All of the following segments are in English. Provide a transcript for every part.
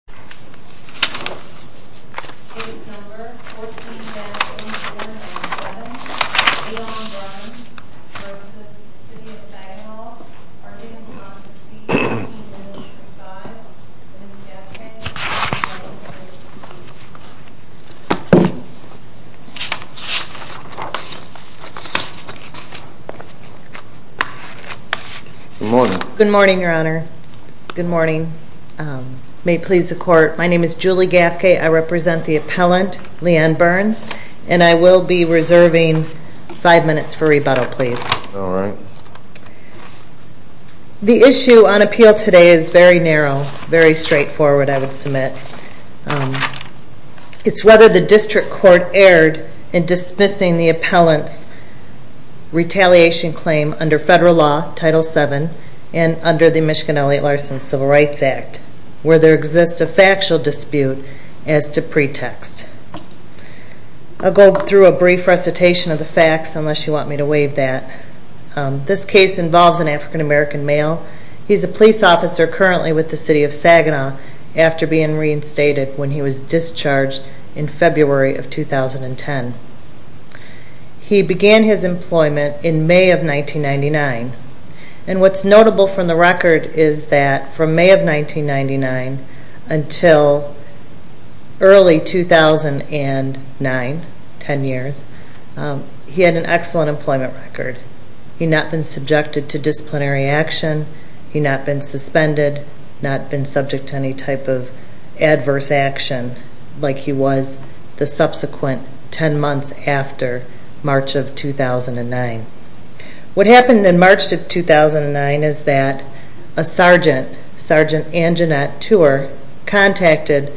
arguing on the sleeping village facade with Ms. Diacke Relevant for agency Good morning Good morning, Your Honor May it please the court My name is Julie Gaffke. I represent the appellant, Leanne Burns and I will be reserving five minutes for rebuttal, please The issue on appeal today is very narrow very straightforward, I would submit. It's whether the district court erred in dismissing the appellant's retaliation claim under federal law, Title VII, and under the Michigan Elliott Larson Civil Rights Act where there exists a factual dispute as to pretext I'll go through a brief recitation of the facts unless you want me to waive that This case involves an African-American male He's a police officer currently with the city of Saginaw after being reinstated when he was discharged in February of 2010. He began his employment in May of 1999 and what's notable from the record is that from May of 1999 until early 2009 10 years, he had an excellent employment record He had not been subjected to disciplinary action He had not been suspended, not been subject to any type of adverse action like he was the subsequent 10 months after March of 2009 What happened in March of 2009 is that a sergeant, Sergeant Anjanette Tuer contacted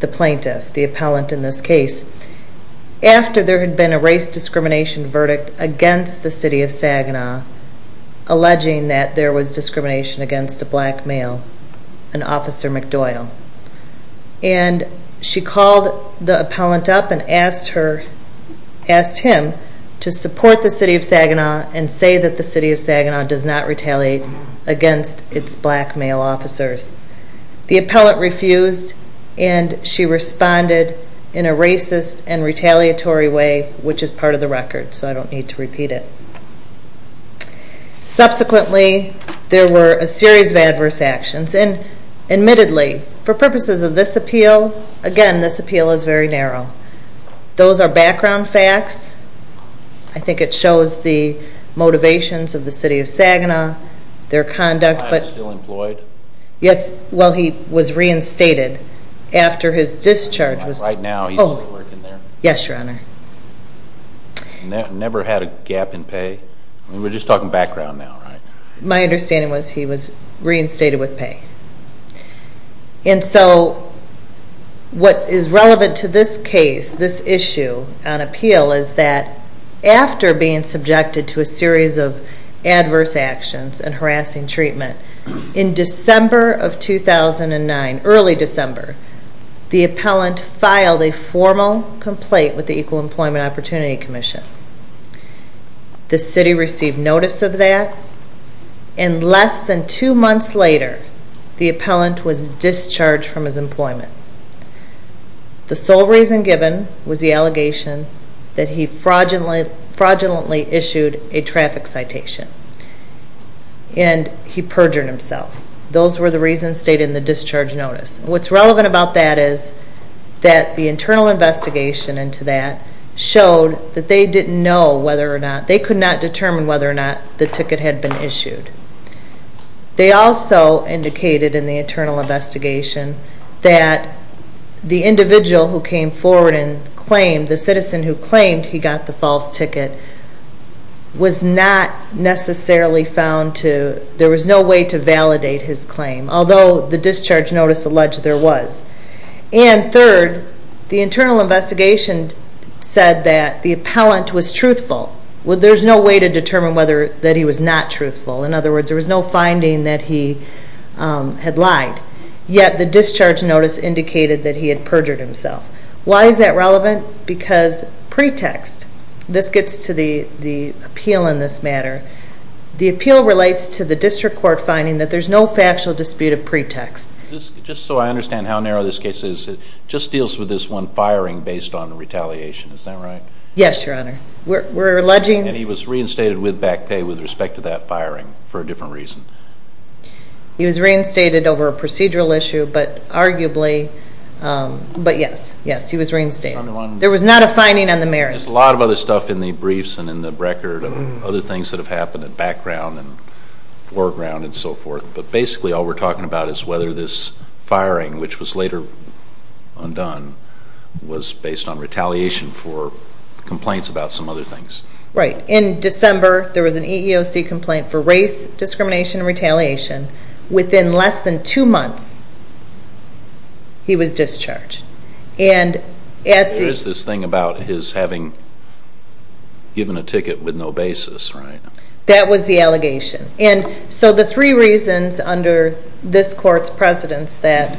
the plaintiff, the appellant in this case after there had been a race discrimination verdict against the city of Saginaw, alleging that there was discrimination against a black male an officer McDoyle, and she called the appellant up and asked her asked him to support the city of Saginaw and say that the city of Saginaw does not retaliate against its black male officers. The appellant refused and she responded in a racist and retaliatory way, which is part of the record so I don't need to repeat it Subsequently there were a series of adverse actions and admittedly for purposes of this appeal, again this appeal is very narrow Those are background facts. I think it shows the motivations of the city of Saginaw, their conduct The client is still employed? Yes, well he was reinstated after his discharge was... Right now he's still working there? Yes, your honor. Never had a gap in pay? We're just talking background now, right? My understanding was he was reinstated with pay. And so what is relevant to this case, this series of adverse actions and harassing treatment in December of 2009, early December the appellant filed a formal complaint with the Equal Employment Opportunity Commission. The city received notice of that and less than two months later the appellant was discharged from his employment. The sole reason given was the allegation that he fraudulently issued a traffic citation and he perjured himself. Those were the reasons stated in the discharge notice What's relevant about that is that the internal investigation into that showed that they didn't know whether or not, they could not determine whether or not the ticket had been issued. They also indicated in the internal investigation that the individual who came forward and claimed, the citizen who claimed he got the false ticket was not necessarily found to there was no way to validate his claim, although the discharge notice alleged there was. And third, the internal investigation said that the appellant was truthful. There's no way to determine whether that he was not truthful. In other words, there was no finding that he had lied. Yet the discharge notice indicated that he had perjured himself. Why is that relevant? Because pretext. This gets to the appeal in this matter. The appeal relates to the district court finding that there's no factual dispute of pretext. Just so I understand how narrow this case is, it just deals with this one firing based on retaliation. Is that right? Yes, your honor. We're alleging... And he was reinstated with back pay with respect to that firing for a different reason. He was reinstated over a procedural issue but arguably, but yes, yes, he was reinstated. There was not a finding on the merits. There's a lot of other stuff in the briefs and in the record of other things that have happened in background and foreground and so forth, but basically all we're talking about is whether this firing, which was later undone, was based on retaliation for complaints about some other things. Right. In December, there was an EEOC complaint for race discrimination and retaliation. Within less than two months, he was discharged. And there is this thing about his having given a ticket with no basis, right? That was the allegation. And so the three reasons under this court's precedence that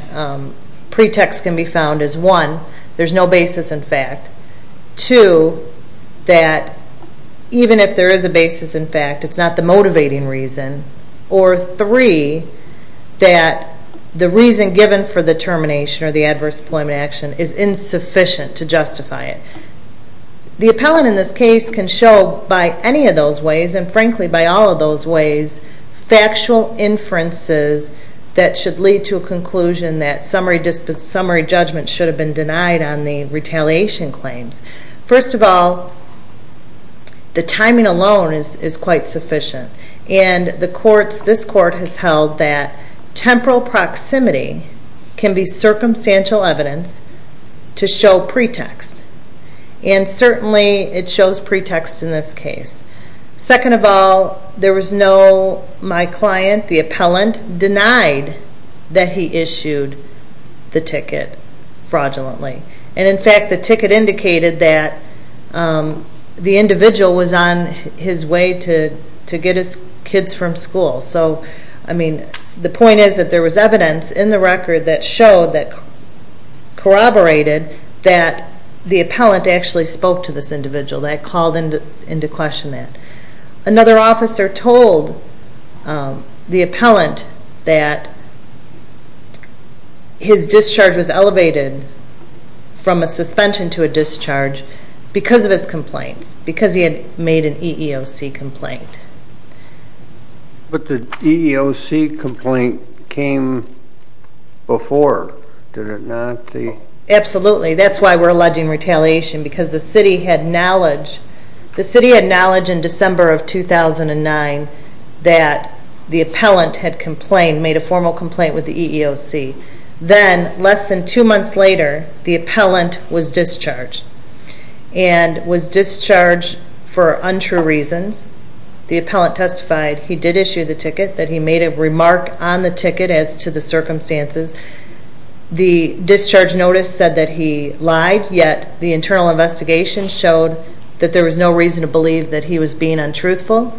pretext can be found is one, there's no basis in fact. Two, that even if there is a basis in fact, it's not the motivating reason. Or three, that the reason given for the termination or the adverse deployment action is insufficient to justify it. The appellant in this case can show by any of those ways, and frankly by all of those ways, factual inferences that should lead to a conclusion that summary judgment should have been denied on the retaliation claims. First of all, the timing alone is quite sufficient. And the courts, this court has held that temporal proximity can be circumstantial evidence to show pretext. And certainly it shows pretext in this case. Second of all, there was no, my client, the appellant, denied that he issued the ticket fraudulently. And in fact, the ticket indicated that the individual was on his way to get his ticket. So that means that there was evidence in the record that showed that corroborated that the appellant actually spoke to this individual, that called into question that. Another officer told the appellant that his discharge was elevated from a suspension to a discharge because of his complaints, because he had made an EEOC complaint. But the EEOC complaint came before, did it not? Absolutely. That's why we're alleging retaliation, because the city had knowledge, the city had knowledge in December of 2009 that the appellant had complained, made a formal complaint with the EEOC. Then, less than two months later, the appellant was discharged. And was discharged for untrue reasons. The appellant testified he did issue the ticket, that he made a remark on the ticket as to the circumstances. The discharge notice said that he lied, yet the internal investigation showed that there was no reason to believe that he was being untruthful.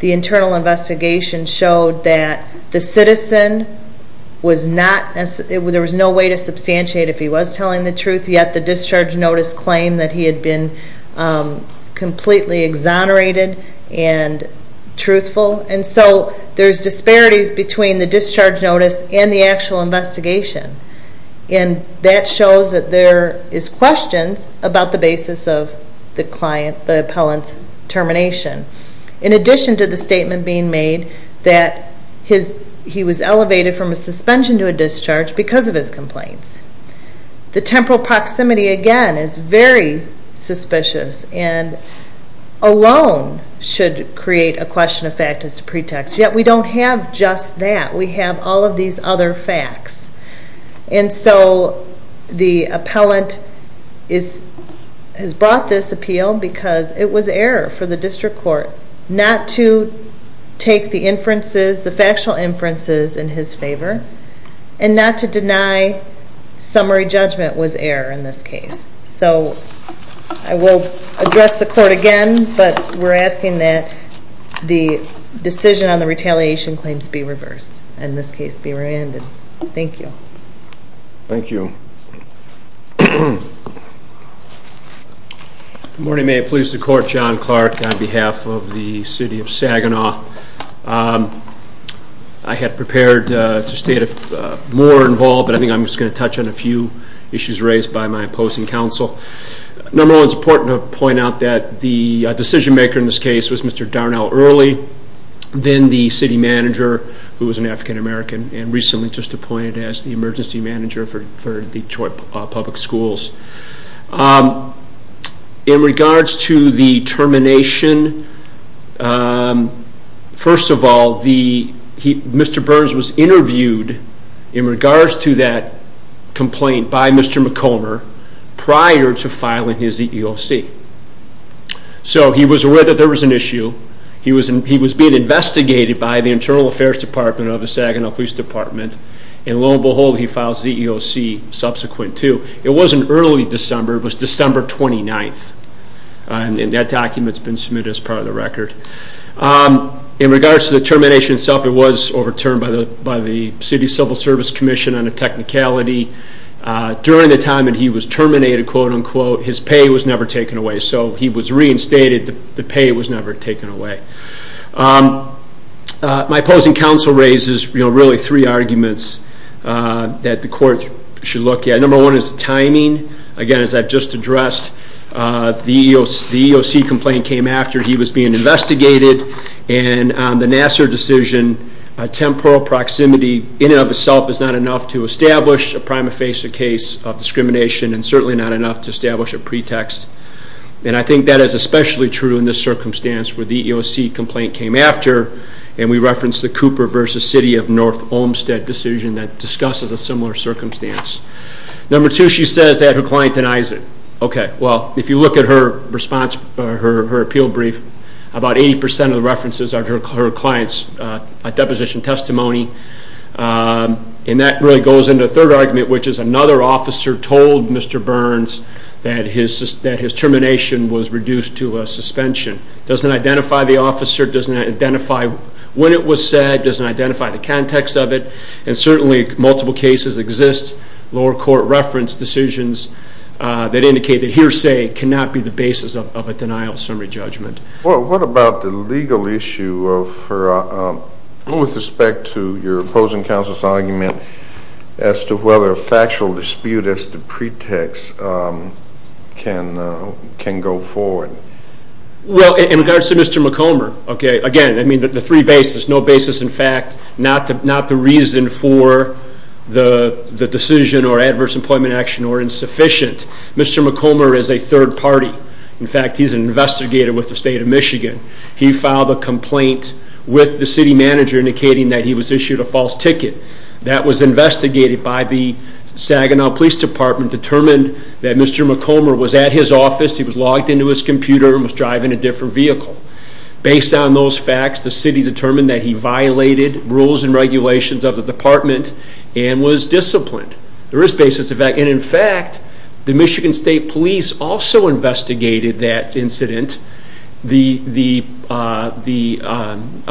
The internal investigation showed that the citizen was not, there was no way to substantiate if he was telling the truth, yet the discharge notice claimed that he had been completely exonerated and truthful. And so there's disparities between the discharge notice and the actual investigation. And that shows that there is questions about the basis of the client, the appellant's termination. In addition to the statement being made that he was elevated from a suspension to a discharge because of his complaints. The temporal proximity, again, is very alone, should create a question of fact as to pretext. Yet we don't have just that. We have all of these other facts. And so the appellant has brought this appeal because it was error for the district court not to take the inferences, the factual inferences, in his favor. And not to deny summary judgment was error in this case. So I will address the court again, but we're asking that the decision on the retaliation claims be reversed, and this case be re-ended. Thank you. Thank you. Good morning. May it please the court, John Clark on behalf of the city of Saginaw. I had prepared to stay more involved, but I think I'm just going to touch on a few issues raised by my co-hosting counsel. Number one, it's important to point out that the decision-maker in this case was Mr. Darnell Early, then the city manager, who was an African-American, and recently just appointed as the emergency manager for Detroit Public Schools. In regards to the termination, first of all, Mr. Burns was interviewed in regards to that prior to filing his EEOC. So he was aware that there was an issue, he was being investigated by the Internal Affairs Department of the Saginaw Police Department, and lo and behold, he filed his EEOC subsequent to. It wasn't early December, it was December 29th, and that document's been submitted as part of the record. In regards to the termination itself, it was overturned by the City Civil Service Commission on the technicality. During the time that he was terminated, quote-unquote, his pay was never taken away. So he was reinstated, the pay was never taken away. My opposing counsel raises, you know, really three arguments that the court should look at. Number one is timing. Again, as I've just addressed, the EEOC complaint came after he was being investigated, and on the Nassar decision, temporal proximity in and of itself is not enough to establish a prima facie case of discrimination, and certainly not enough to establish a pretext. And I think that is especially true in this circumstance where the EEOC complaint came after, and we reference the Cooper v. City of North Olmstead decision that discusses a similar circumstance. Number two, she says that her client denies it. Okay, well, if you look at her appeal brief, about 80% of the references are her client's deposition testimony, and that really goes into a third argument, which is another officer told Mr. Burns that his termination was reduced to a suspension. Doesn't identify the officer, doesn't identify when it was said, doesn't identify the context of it, and certainly multiple cases exist, lower court reference decisions that indicate that hearsay cannot be the basis of a denial of summary judgment. Well, what about the legal issue with respect to your opposing counsel's argument as to whether a factual dispute as the pretext can go forward? Well, in regards to Mr. McComer, okay, again, I mean the three bases, no basis in fact, not the reason for the Mr. McComer is a third party. In fact, he's an investigator with the state of Michigan. He filed a complaint with the city manager indicating that he was issued a false ticket. That was investigated by the Saginaw Police Department, determined that Mr. McComer was at his office, he was logged into his computer, and was driving a different vehicle. Based on those facts, the city determined that he violated rules and regulations of the department and was disciplined. There is basis in fact, and in fact, the Michigan State Police also investigated that incident. The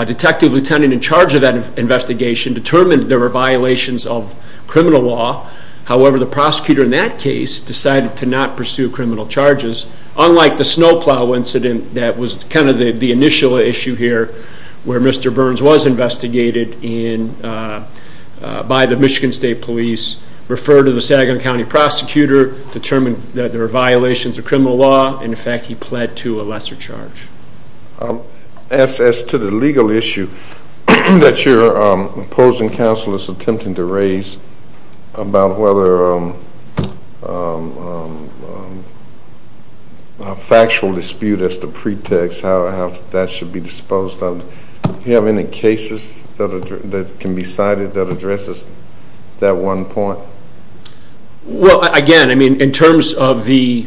detective lieutenant in charge of that investigation determined there were violations of criminal law. However, the prosecutor in that case decided to not pursue criminal charges, unlike the snowplow incident that was kind of the initial issue here where Mr. Burns was investigated by the Michigan State Police, referred to the Saginaw County prosecutor, determined that there were violations of criminal law, in fact, he pled to a lesser charge. As to the legal issue that your opposing counsel is attempting to raise about whether a factual dispute as the pretext, how can be cited that addresses that one point? Well again, I mean in terms of the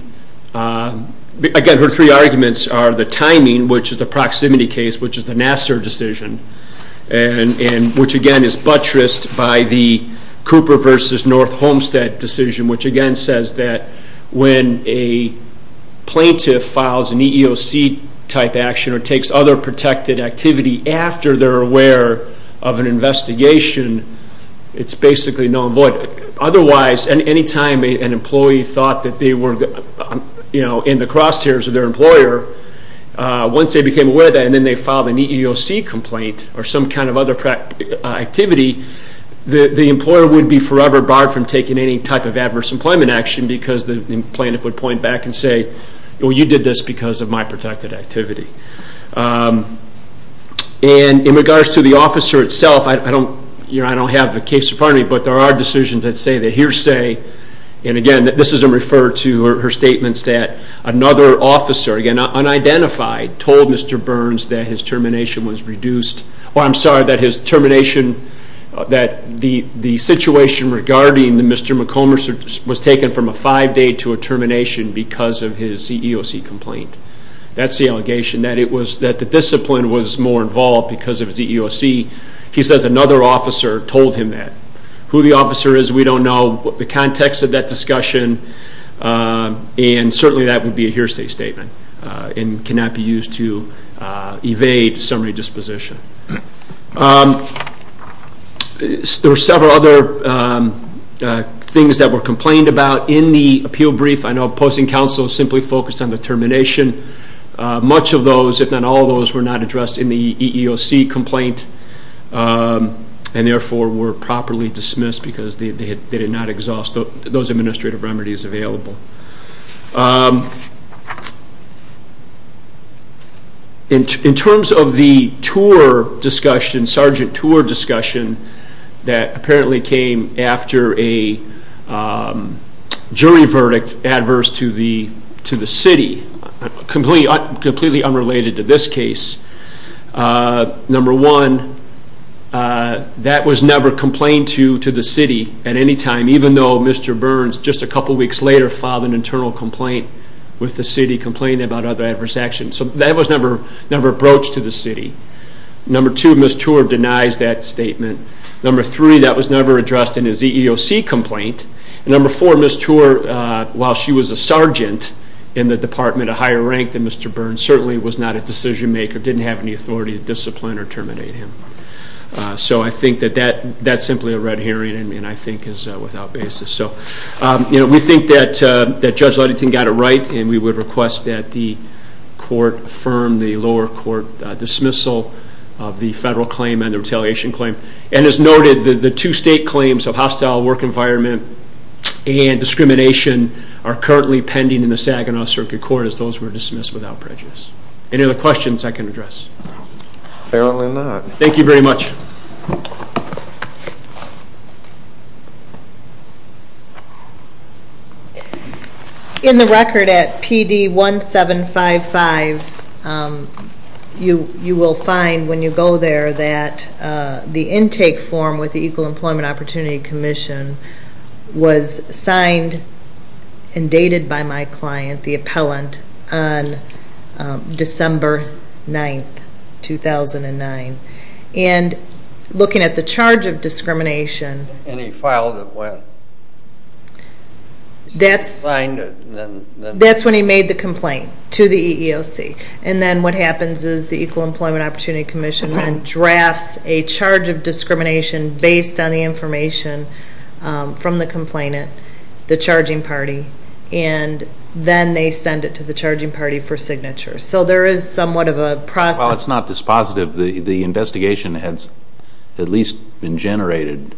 three arguments are the timing, which is the proximity case, which is the Nassar decision, and which again is buttressed by the Cooper versus North Homestead decision, which again says that when a plaintiff files an EEOC type action or takes other protected activity after they're aware of an investigation, it's basically null and void. Otherwise, any time an employee thought that they were in the crosshairs of their employer, once they became aware of that and then they filed an EEOC complaint or some kind of other activity, the employer would be forever barred from taking any type of adverse employment action because the plaintiff would point back and say, well you did this because of my protected activity. And in regards to the officer itself, I don't have the case in front of me, but there are decisions that say that he or say, and again this is referred to in her statements that another officer, again unidentified, told Mr. Burns that his termination was reduced, well I'm sorry, that his termination, that the situation regarding Mr. McComas was taken from a five-day to a termination because of his EEOC complaint. That's the allegation, that the discipline was more involved because of his EEOC. He says another officer told him that. Who the officer is, we don't know. The context of that discussion, and certainly that would be a hearsay statement and cannot be used to evade summary disposition. There were several other things that were complained about in the termination. Much of those, if not all those, were not addressed in the EEOC complaint and therefore were properly dismissed because they did not exhaust those administrative remedies available. In terms of the tour discussion, sergeant tour discussion, that apparently came after a jury verdict adverse to the city, completely unrelated to this case. Number one, that was never complained to the city at any time, even though Mr. Burns just a couple weeks later filed an internal complaint with the city complaining about other adverse actions. So that was never broached to the city. Number two, Ms. Tour denies that statement. Number three, that was never addressed in his EEOC complaint. Number four, Ms. Tour, while she was a sergeant in the department of higher rank than Mr. Burns, certainly was not a decision-maker, didn't have any authority to discipline or terminate him. So I think that that's simply a red herring and I think is without basis. We think that Judge Ludington got it right and we would request that the court affirm the lower court dismissal of the federal claim and the retaliation claim. And as noted, the two state claims of hostile work environment and discrimination are currently pending in the Saginaw Circuit Court as those were dismissed without prejudice. Any other questions I can address? Thank you very much. In the record at PD1755, you will find when you go there that the intake form with the Equal Employment Opportunity Commission was signed and dated by my client, the appellant, on December 9, 2009. And looking at the charge of discrimination... And he filed it when? That's when he made the complaint to the EEOC. And then what happens is the Equal Employment Opportunity Commission drafts a charge of discrimination based on the information from the complainant, the charging party, and then they send it to the charging party for signature. So there is somewhat of a process... While it's not dispositive, the investigation has at least been generated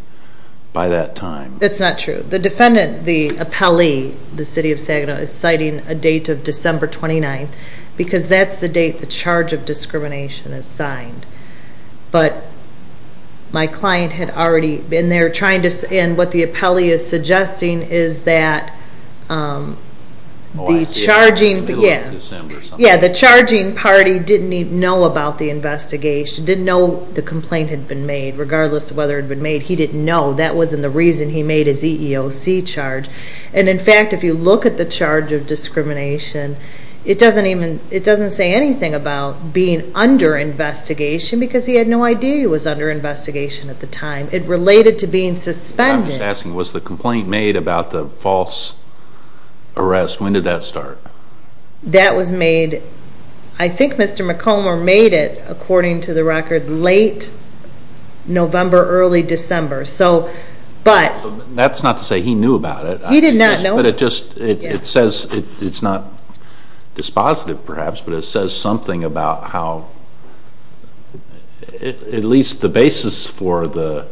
by that time. It's not true. The defendant, the appellee, the City of Saginaw, is citing a date of December 29 because that's the date the charge of discrimination is signed. But my client had already been there trying to... And what the appellee is suggesting is that the charging... Oh, I see. In the middle of December or something. Yeah, the charging party didn't even know about the investigation, didn't know the complaint had been made, regardless of whether it had been made. He didn't know. That wasn't the reason he made his EEOC charge. And in fact, if you look at the charge of discrimination, it doesn't say anything about being under investigation because he had no idea he was under investigation at the time. It related to being suspended. I'm just asking, was the complaint made about the false arrest? When did that start? That was made... I think Mr. McComber made it, according to the record, late November, early December. That's not to say he knew about it. He did not know. But it says, it's not dispositive perhaps, but it says something about how... At least the basis for the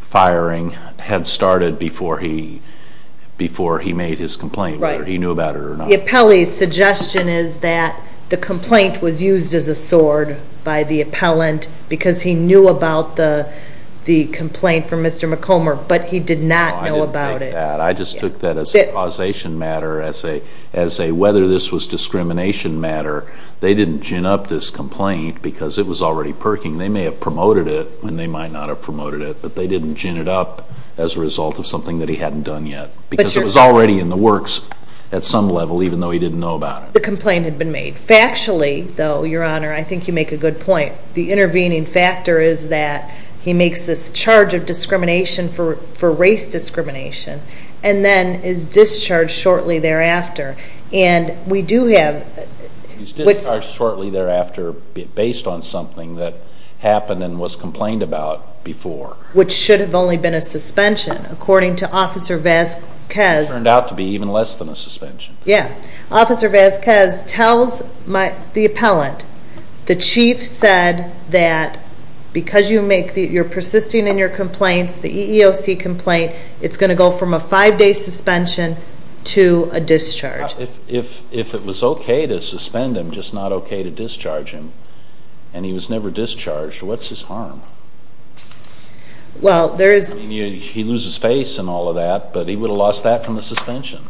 firing had started before he made his complaint, whether he knew about it or not. Right. The appellee's suggestion is that the complaint was used as a sword by the appellant because he knew about the complaint from Mr. McComber, but he did not know about it. I didn't take that. I just took that as a causation matter, as a whether this was discrimination matter. They didn't gin up this complaint because it was already perking. They may have promoted it and they might not have promoted it, but they didn't gin it up as a result of something that he hadn't done yet. Because it was already in the works at some level, even though he didn't know about it. The complaint had been made. Factually, though, Your Honor, I think you make a good point. The intervening factor is that he makes this charge of discrimination for race discrimination and then is discharged shortly thereafter. And we do have... He's discharged shortly thereafter based on something that happened and was complained about before. Which should have only been a suspension. According to Officer Vasquez... Turned out to be even less than a suspension. Yeah. Officer Vasquez tells the appellant, the chief said that because you're persisting in your complaints, the EEOC complaint, it's going to go from a five day suspension to a discharge. If it was okay to suspend him, just not okay to discharge him, and he was never discharged, what's his harm? Well, there is... He loses face and all of that, but he would have lost that from the suspension.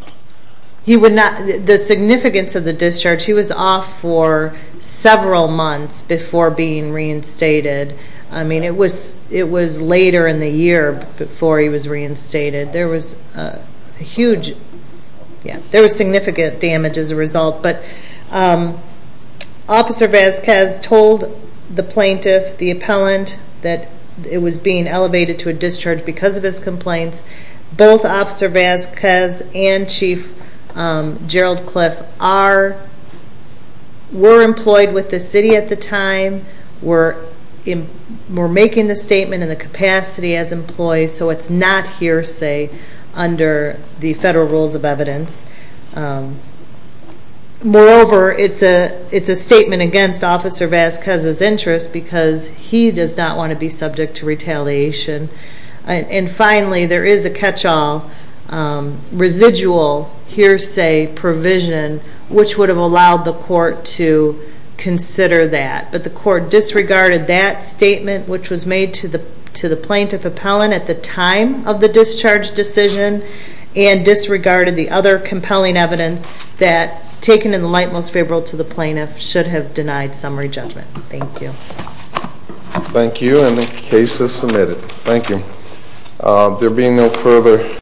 He would not... The significance of the discharge, he was off for several months before being reinstated. I mean, it was later in the year before he was reinstated. There was a huge... Yeah, there was significant damage as a result, but Officer Vasquez told the plaintiff, the appellant, that it was being elevated to a discharge because of his complaints. Both Officer Vasquez and Chief Gerald Cliff are... Were employed with the city at the time. We're making the statement in the capacity as employees, so it's not hearsay under the federal rules of evidence. Moreover, it's a statement against Officer Vasquez's interest because he does not wanna be subject to retaliation. And finally, there is a catch all residual hearsay provision, which would have allowed the court to consider that. But the court disregarded that statement, which was made to the plaintiff appellant at the time of the discharge decision, and disregarded the other compelling evidence that, taken in the light, most favorable to the plaintiff, should have denied summary judgment. Thank you. Thank you, and the case is submitted. Thank you. There being no further...